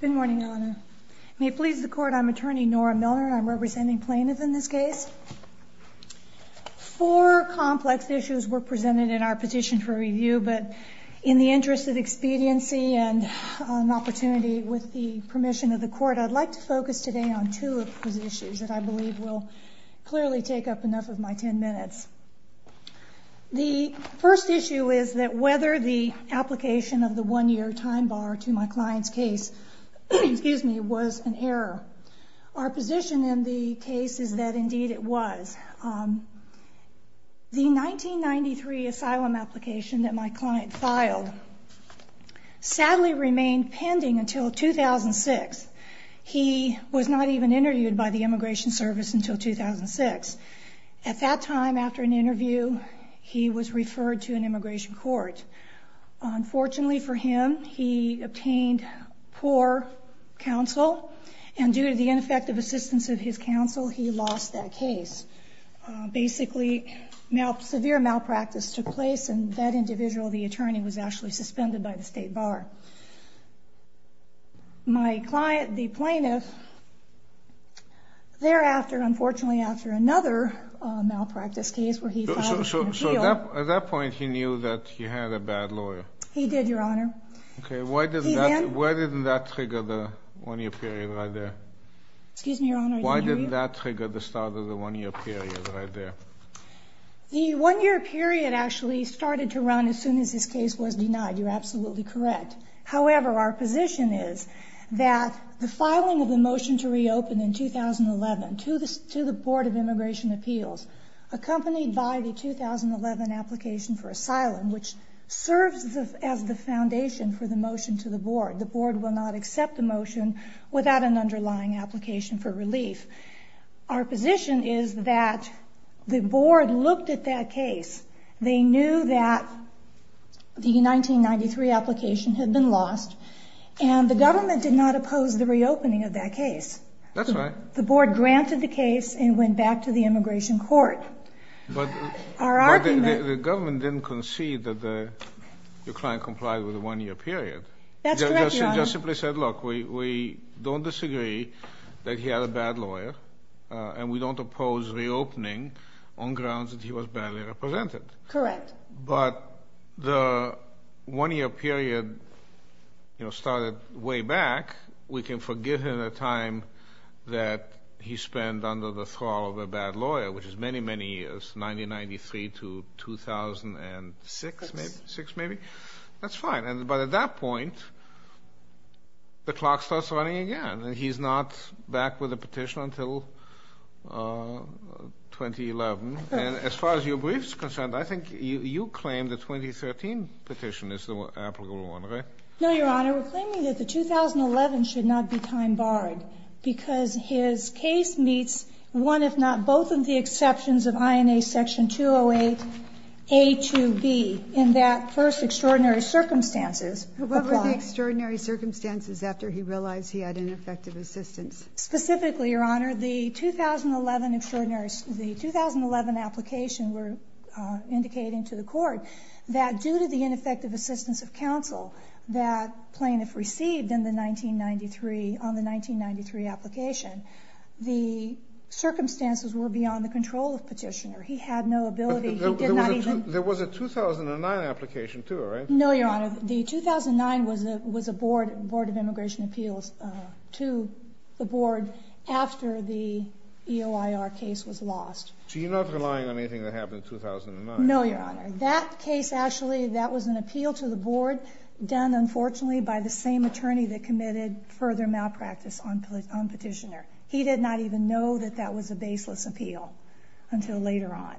Good morning, Your Honor. May it please the Court, I'm Attorney Nora Milner, and I'm representing plaintiffs in this case. Four complex issues were presented in our petition for review, but in the interest of expediency and an opportunity with the permission of the Court, I'd like to focus today on two of those issues that I believe will clearly take up enough of my ten minutes. The first issue is that whether the application of the one-year time bar to my client's case was an error. Our position in the case is that indeed it was. The 1993 asylum application that my client filed sadly remained pending until 2006. He was not even interviewed by the Immigration Service until 2006. At that time, after an interview, he was referred to an immigration court. Unfortunately for him, he obtained poor counsel, and due to the ineffective assistance of his counsel, he lost that case. Basically, severe malpractice took place, and that individual, the attorney, was actually suspended by the state bar. My client, the plaintiff, thereafter, unfortunately after another malpractice case where he filed an appeal So at that point, he knew that he had a bad lawyer? He did, Your Honor. Okay. Why didn't that trigger the one-year period right there? Excuse me, Your Honor. Why didn't that trigger the start of the one-year period right there? The one-year period actually started to run as soon as this case was denied. You're absolutely correct. However, our position is that the filing of the motion to reopen in 2011 to the Board of Immigration Appeals, accompanied by the 2011 application for asylum, which serves as the foundation for the motion to the Board, the Board will not accept the motion without an underlying application for relief. Our position is that the Board looked at that case. They knew that the 1993 application had been lost, and the government did not oppose the reopening of that case. That's right. The Board granted the case and went back to the immigration court. But the government didn't concede that the client complied with the one-year period. That's correct, Your Honor. We just simply said, look, we don't disagree that he had a bad lawyer, and we don't oppose reopening on grounds that he was badly represented. Correct. But the one-year period started way back. We can forgive him the time that he spent under the thrall of a bad lawyer, which is many, many years, 1993 to 2006, maybe? Six. At that point, the clock starts running again, and he's not back with a petition until 2011. And as far as your brief is concerned, I think you claim the 2013 petition is the applicable one, right? No, Your Honor. We're claiming that the 2011 should not be time-barred because his case meets one, if not both, of the exceptions of INA Section 208A to B in that first extraordinary circumstances. What were the extraordinary circumstances after he realized he had ineffective assistance? Specifically, Your Honor, the 2011 application we're indicating to the court that due to the ineffective assistance of counsel that plaintiff received on the 1993 application, the circumstances were beyond the control of petitioner. He had no ability. There was a 2009 application, too, right? No, Your Honor. The 2009 was a Board of Immigration Appeals to the board after the EOIR case was lost. So you're not relying on anything that happened in 2009? No, Your Honor. That case, actually, that was an appeal to the board done, unfortunately, by the same attorney that committed further malpractice on petitioner. He did not even know that that was a baseless appeal until later on.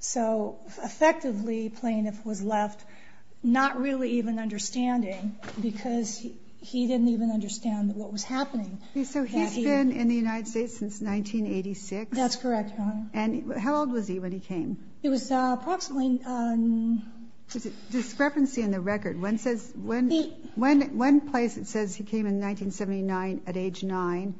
So, effectively, plaintiff was left not really even understanding because he didn't even understand what was happening. So he's been in the United States since 1986? That's correct, Your Honor. And how old was he when he came? He was approximately... There's a discrepancy in the record. One says... He... One place it says he came in 1979 at age 9,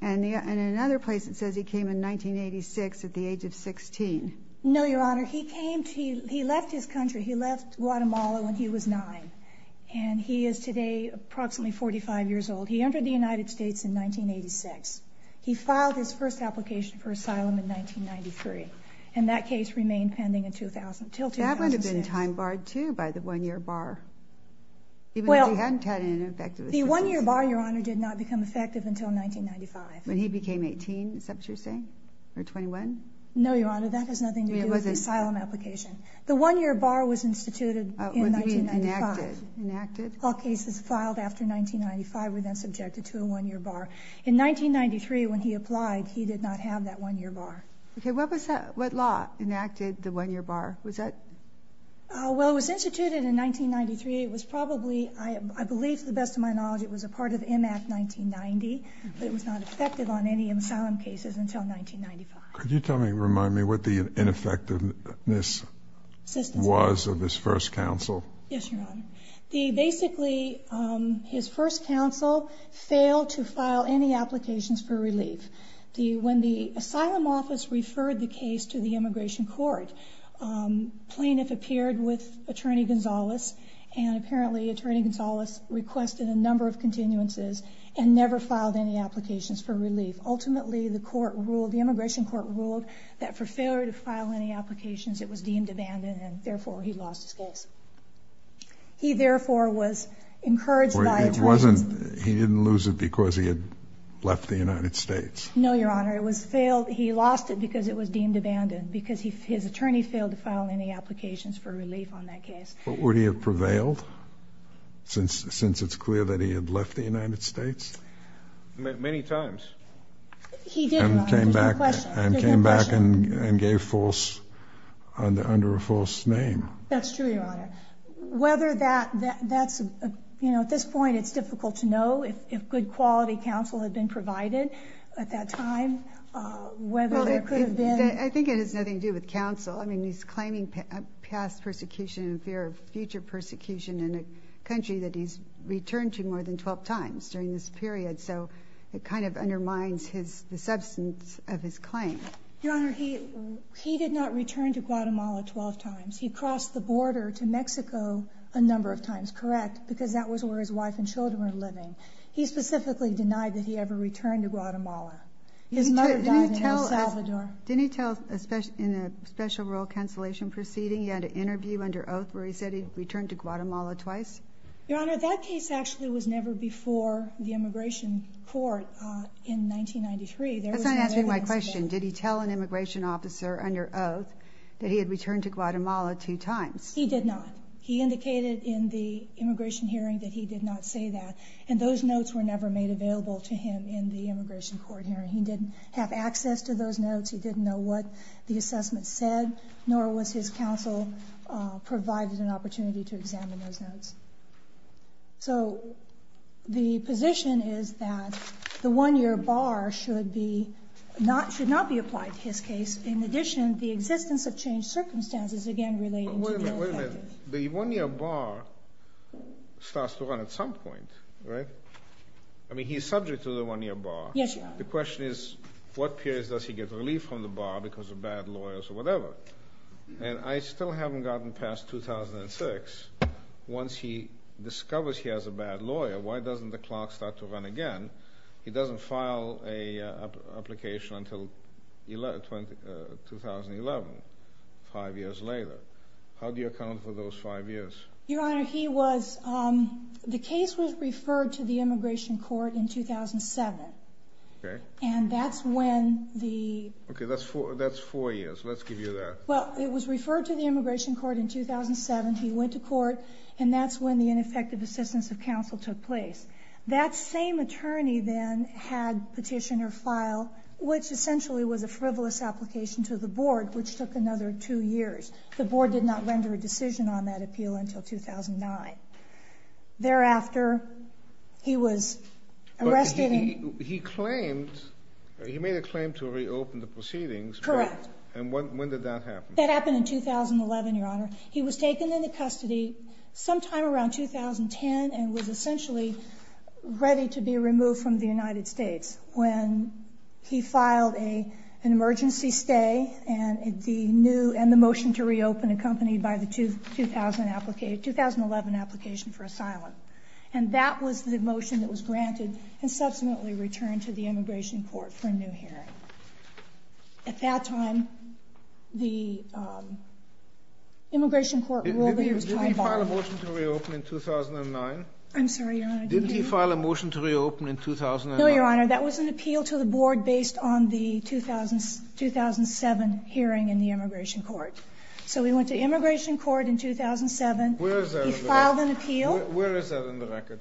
and in another place it says he came in 1986 at the age of 16. No, Your Honor. He came to... He left his country. He left Guatemala when he was 9, and he is today approximately 45 years old. He entered the United States in 1986. He filed his first application for asylum in 1993. And that case remained pending until 2006. That would have been time barred, too, by the 1-year bar, even if he hadn't had an effective... The 1-year bar, Your Honor, did not become effective until 1995. When he became 18, is that what you're saying? Or 21? No, Your Honor. That has nothing to do with the asylum application. The 1-year bar was instituted in 1995. Enacted. Enacted. All cases filed after 1995 were then subjected to a 1-year bar. In 1993, when he applied, he did not have that 1-year bar. Okay. What was that? What law enacted the 1-year bar? Was that...? Well, it was instituted in 1993. It was probably, I believe to the best of my knowledge, it was a part of M. Act 1990. But it was not effective on any asylum cases until 1995. Could you tell me, remind me, what the ineffectiveness was of his first counsel? Yes, Your Honor. Basically, his first counsel failed to file any applications for relief. When the asylum office referred the case to the immigration court, plaintiff appeared with Attorney Gonzales, and apparently Attorney Gonzales requested a number of continuances and never filed any applications for relief. Ultimately, the immigration court ruled that for failure to file any applications, it was deemed abandoned, and therefore he lost his case. He, therefore, was encouraged by attorneys... No, Your Honor. It was failed. He lost it because it was deemed abandoned, because his attorney failed to file any applications for relief on that case. Would he have prevailed since it's clear that he had left the United States? Many times. He did, Your Honor. There's no question. And came back and gave false, under a false name. That's true, Your Honor. Whether that's, you know, at this point it's difficult to know if good quality counsel had been provided at that time, whether there could have been... I think it has nothing to do with counsel. I mean, he's claiming past persecution in fear of future persecution in a country that he's returned to more than 12 times during this period, so it kind of undermines the substance of his claim. Your Honor, he did not return to Guatemala 12 times. He crossed the border to Mexico a number of times, correct, because that was where his wife and children were living. He specifically denied that he ever returned to Guatemala. His mother died in El Salvador. Didn't he tell, in a special rural cancellation proceeding, he had an interview under oath where he said he returned to Guatemala twice? Your Honor, that case actually was never before the immigration court in 1993. That's not answering my question. Did he tell an immigration officer under oath that he had returned to Guatemala two times? He did not. He indicated in the immigration hearing that he did not say that, and those notes were never made available to him in the immigration court hearing. He didn't have access to those notes. He didn't know what the assessment said, nor was his counsel provided an opportunity to examine those notes. So the position is that the one-year bar should not be applied to his case. In addition, the existence of changed circumstances, again, relating to the... Wait a minute. The one-year bar starts to run at some point, right? I mean, he's subject to the one-year bar. Yes, Your Honor. The question is what periods does he get relief from the bar because of bad lawyers or whatever. And I still haven't gotten past 2006. Once he discovers he has a bad lawyer, why doesn't the clerk start to run again? He doesn't file an application until 2011, five years later. How do you account for those five years? Your Honor, the case was referred to the immigration court in 2007. Okay. And that's when the... Okay. That's four years. Let's give you that. Well, it was referred to the immigration court in 2007. He went to court, and that's when the ineffective assistance of counsel took place. That same attorney then had petition or file, which essentially was a frivolous application to the board, which took another two years. The board did not render a decision on that appeal until 2009. Thereafter, he was arrested and... But he claimed, he made a claim to reopen the proceedings. Correct. And when did that happen? That happened in 2011, Your Honor. He was taken into custody sometime around 2010 and was essentially ready to be removed from the United States. And that was when he filed an emergency stay and the new, and the motion to reopen accompanied by the 2000 application, 2011 application for asylum. And that was the motion that was granted and subsequently returned to the immigration court for a new hearing. At that time, the immigration court... Did he file a motion to reopen in 2009? I'm sorry, Your Honor. Didn't he? Didn't he file a motion to reopen in 2009? No, Your Honor. That was an appeal to the board based on the 2007 hearing in the immigration court. So he went to immigration court in 2007. Where is that in the record? He filed an appeal. Where is that in the record?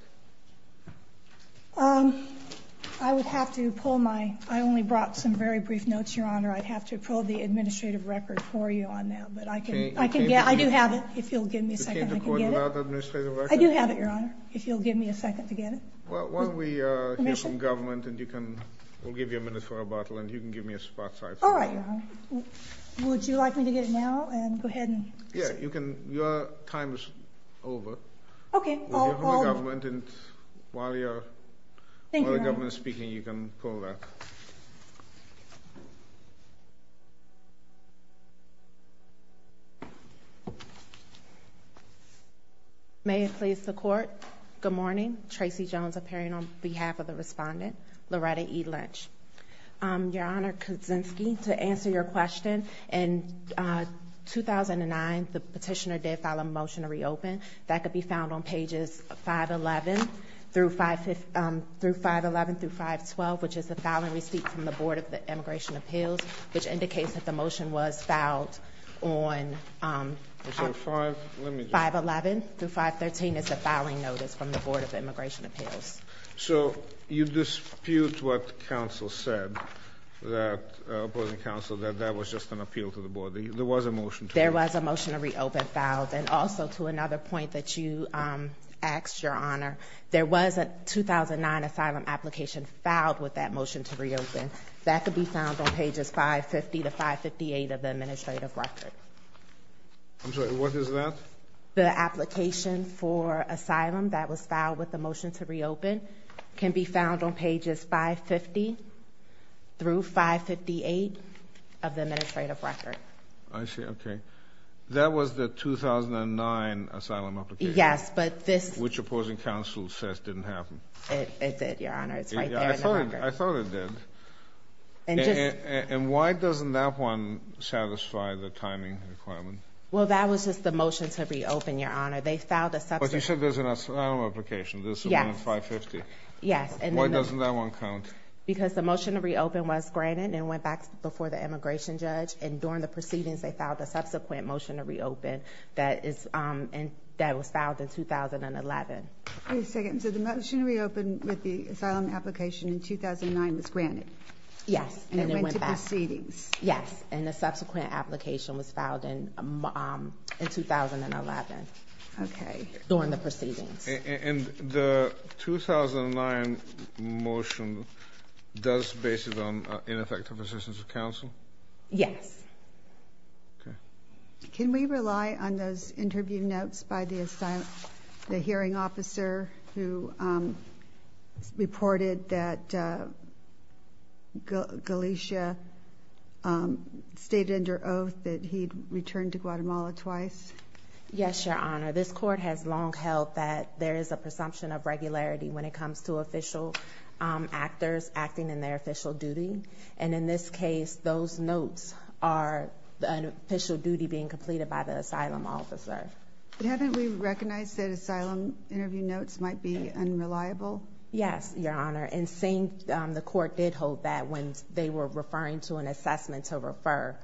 I would have to pull my, I only brought some very brief notes, Your Honor. I'd have to pull the administrative record for you on that. But I can get, I do have it. If you'll give me a second, I can get it. You came to court without administrative record? I do have it, Your Honor, if you'll give me a second to get it. While we hear from government and you can, we'll give you a minute for a bottle and you can give me a spot sight. All right, Your Honor. Would you like me to get it now and go ahead and... Yeah, you can, your time is over. Okay, I'll... We'll hear from the government and while you're... Thank you, Your Honor. While the government is speaking, you can pull that. May it please the court. Good morning. Tracy Jones appearing on behalf of the respondent, Loretta E. Lynch. Your Honor, Kaczynski, to answer your question, in 2009, the petitioner did file a motion to reopen. That could be found on pages 511 through 512, which is the filing receipt from the Board of Immigration Appeals, which indicates that the motion was filed on 511 through 513 is the filing notice from the Board of Immigration Appeals. So you dispute what counsel said, that opposing counsel, that that was just an appeal to the board. There was a motion to reopen. There was a motion to reopen filed. And also to another point that you asked, Your Honor, there was a 2009 asylum application filed with that motion to reopen. That could be found on pages 550 to 558 of the administrative record. I'm sorry. What is that? The application for asylum that was filed with the motion to reopen can be found on pages 550 through 558 of the administrative record. I see. Okay. That was the 2009 asylum application. Yes, but this... Which opposing counsel says didn't happen. It did, Your Honor. It's right there in the record. I thought it did. And just... And why doesn't that one satisfy the timing requirement? Well, that was just the motion to reopen, Your Honor. They filed a subsequent... But you said there's an asylum application. There's one on 550. Yes. Why doesn't that one count? Because the motion to reopen was granted and went back before the immigration judge. And during the proceedings, they filed a subsequent motion to reopen that was filed in 2011. Wait a second. So the motion to reopen with the asylum application in 2009 was granted? Yes. And it went back. And it went to proceedings. Yes. And the subsequent application was filed in 2011 during the proceedings. And the 2009 motion does base it on ineffective assistance of counsel? Yes. Okay. Can we rely on those interview notes by the hearing officer who reported that Galicia stayed under oath that he'd returned to Guatemala twice? Yes, Your Honor. This court has long held that there is a presumption of regularity when it comes to official actors acting in their official duty. And in this case, those notes are an official duty being completed by the asylum officer. But haven't we recognized that asylum interview notes might be unreliable? Yes, Your Honor. And the court did hold that when they were referring to an assessment to refer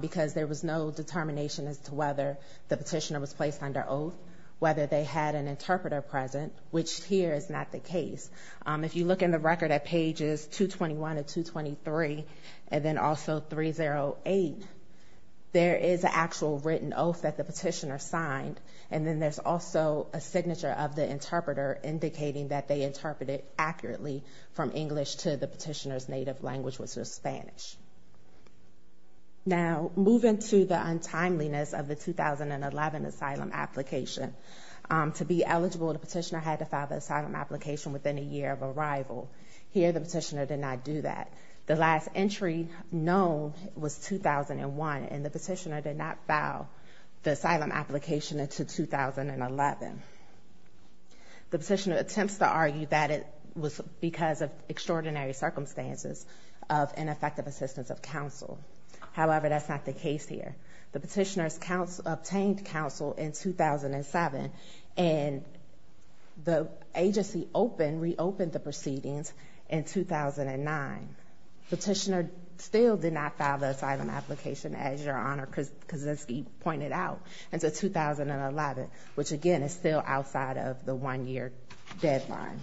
because there was no determination as to whether the petitioner was placed under oath, whether they had an interpreter present, which here is not the case. If you look in the record at pages 221 and 223, and then also 308, there is an actual written oath that the petitioner signed. And then there's also a signature of the interpreter indicating that they interpreted accurately from English to the petitioner's native language, which was Spanish. Now, moving to the untimeliness of the 2011 asylum application, to be eligible, the petitioner had to file the asylum application within a year of arrival. Here, the petitioner did not do that. The last entry known was 2001, and the petitioner did not file the asylum application until 2011. The petitioner attempts to argue that it was because of extraordinary circumstances of ineffective assistance of counsel. However, that's not the case here. The petitioner obtained counsel in 2007, and the agency reopened the proceedings in 2009. The petitioner still did not file the asylum application, as Your Honor Kaczynski pointed out, until 2011, which, again, is still outside of the one-year deadline.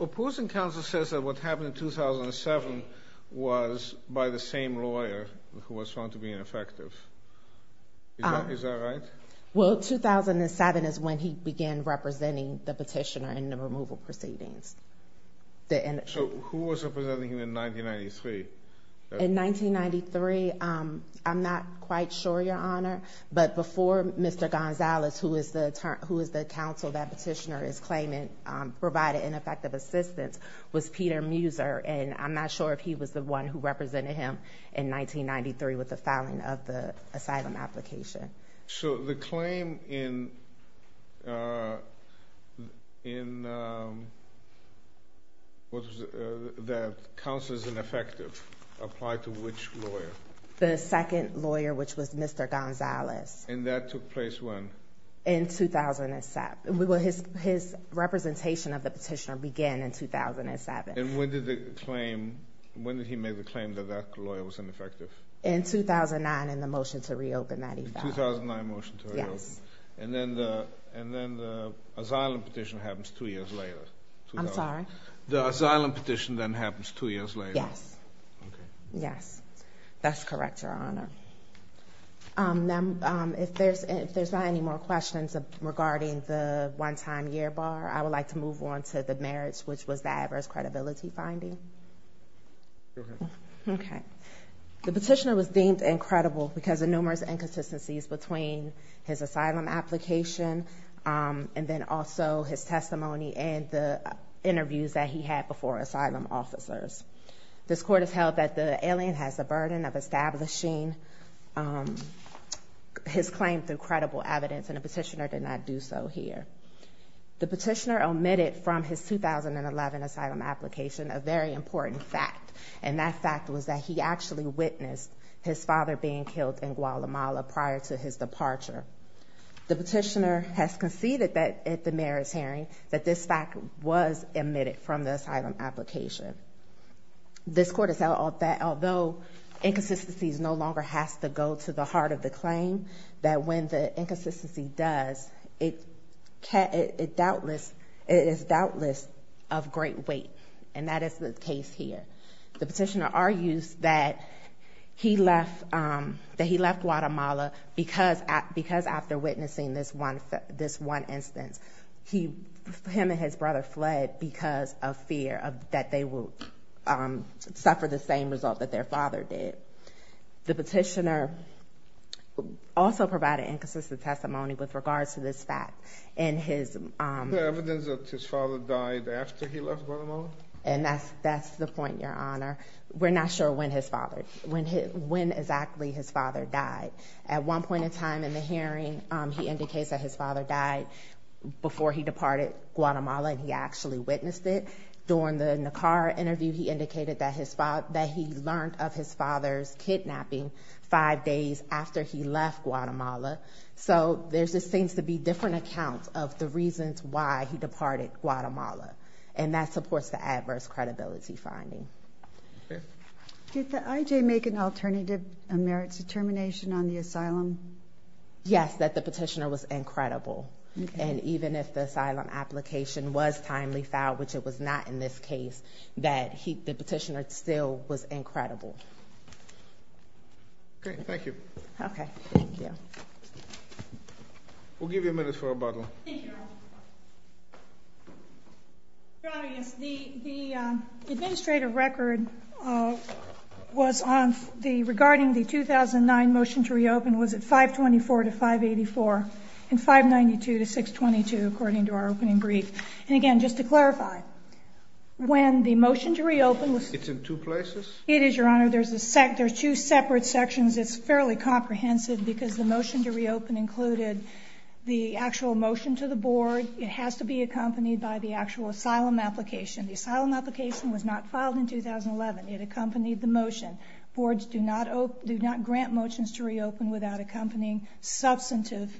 Opposing counsel says that what happened in 2007 was by the same lawyer who was found to be ineffective. Is that right? Well, 2007 is when he began representing the petitioner in the removal proceedings. So who was representing him in 1993? But before Mr. Gonzalez, who is the counsel that petitioner is claiming provided ineffective assistance, was Peter Muser, and I'm not sure if he was the one who represented him in 1993 with the filing of the asylum application. So the claim in that counsel is ineffective applied to which lawyer? The second lawyer, which was Mr. Gonzalez. And that took place when? In 2007. His representation of the petitioner began in 2007. And when did he make the claim that that lawyer was ineffective? In 2009, in the motion to reopen that he filed. The 2009 motion to reopen. Yes. And then the asylum petition happens two years later. I'm sorry? The asylum petition then happens two years later. Yes. Okay. Yes. That's correct, Your Honor. Now, if there's not any more questions regarding the one-time year bar, I would like to move on to the merits, which was the adverse credibility finding. Go ahead. Okay. The petitioner was deemed incredible because of numerous inconsistencies between his asylum application and then also his testimony and the interviews that he had before asylum officers. This Court has held that the alien has a burden of establishing his claim through credible evidence, and the petitioner did not do so here. The petitioner omitted from his 2011 asylum application a very important fact. And that fact was that he actually witnessed his father being killed in Guatemala prior to his departure. The petitioner has conceded that at the merits hearing that this fact was omitted from the This Court has held that although inconsistencies no longer has to go to the heart of the claim, that when the inconsistency does, it is doubtless of great weight. And that is the case here. The petitioner argues that he left Guatemala because after witnessing this one instance, him and his brother fled because of fear that they would suffer the same result that their father did. The petitioner also provided inconsistent testimony with regards to this fact. Is there evidence that his father died after he left Guatemala? And that's the point, Your Honor. We're not sure when exactly his father died. At one point in time in the hearing, he indicates that his father died before he departed Guatemala and he actually witnessed it. During the Nicarra interview, he indicated that he learned of his father's kidnapping five days after he left Guatemala. So there just seems to be different accounts of the reasons why he departed Guatemala. And that supports the adverse credibility finding. Did the IJ make an alternative merits determination on the asylum? Yes, that the petitioner was incredible. And even if the asylum application was timely filed, which it was not in this case, that the petitioner still was incredible. Okay, thank you. Okay, thank you. We'll give you a minute for rebuttal. Thank you, Your Honor. Your Honor, yes. The administrative record was on the regarding the 2009 motion to reopen was at 524 to 584 and 592 to 622 according to our opening brief. And, again, just to clarify, when the motion to reopen was ---- It's in two places? It is, Your Honor. There's two separate sections. It's fairly comprehensive because the motion to reopen included the actual motion to the board. It has to be accompanied by the actual asylum application. The asylum application was not filed in 2011. It accompanied the motion. Boards do not grant motions to reopen without accompanying substantive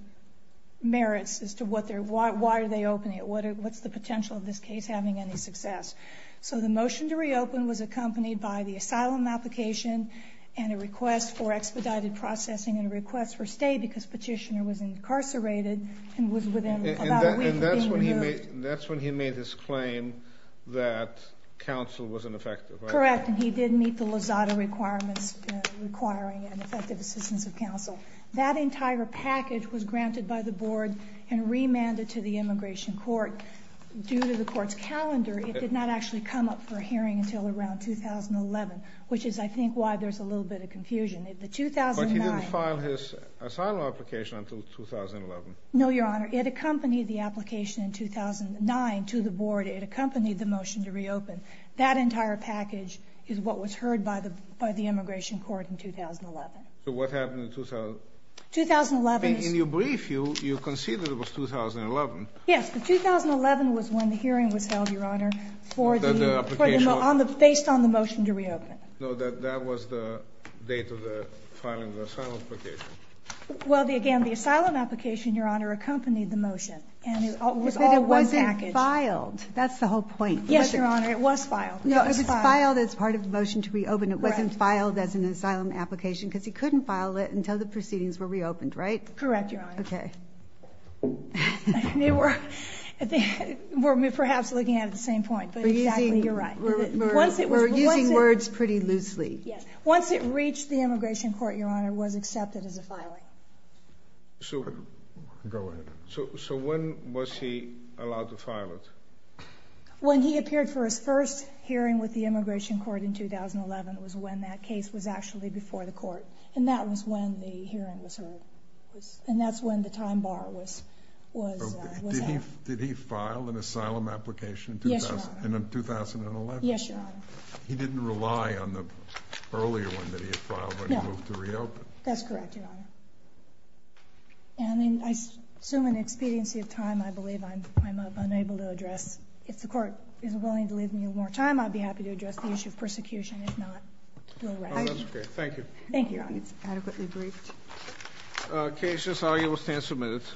merits as to why are they opening it, what's the potential of this case having any success. So the motion to reopen was accompanied by the asylum application and a request for expedited processing and a request for stay because petitioner was incarcerated and was within about a week of being removed. And that's when he made his claim that counsel wasn't effective, right? Correct, and he didn't meet the Lozada requirements requiring an effective assistance of counsel. That entire package was granted by the board and remanded to the immigration court. Due to the court's calendar, it did not actually come up for a hearing until around 2011, which is, I think, why there's a little bit of confusion. But he didn't file his asylum application until 2011? No, Your Honor. It accompanied the application in 2009 to the board. It accompanied the motion to reopen. That entire package is what was heard by the immigration court in 2011. So what happened in 2011? In your brief, you conceded it was 2011. Yes, but 2011 was when the hearing was held, Your Honor, based on the motion to reopen. No, that was the date of the filing of the asylum application. Well, again, the asylum application, Your Honor, accompanied the motion. And it was all one package. But it wasn't filed. That's the whole point. Yes, Your Honor, it was filed. No, it was filed as part of the motion to reopen. It wasn't filed as an asylum application because he couldn't file it until the proceedings were reopened, right? Correct, Your Honor. Okay. We're perhaps looking at it at the same point. But exactly, you're right. We're using words pretty loosely. Once it reached the immigration court, Your Honor, it was accepted as a filing. Go ahead. So when was he allowed to file it? When he appeared for his first hearing with the immigration court in 2011 was when that case was actually before the court. And that was when the hearing was heard. And that's when the time bar was out. Did he file an asylum application in 2011? Yes, Your Honor. He didn't rely on the earlier one that he had filed when he moved to reopen? No. That's correct, Your Honor. And I assume in expediency of time, I believe I'm unable to address. If the Court is willing to leave me more time, I'd be happy to address the issue of persecution. If not, go right ahead. Thank you. Thank you, Your Honor. It's adequately briefed. The case is argued with 10 submittals.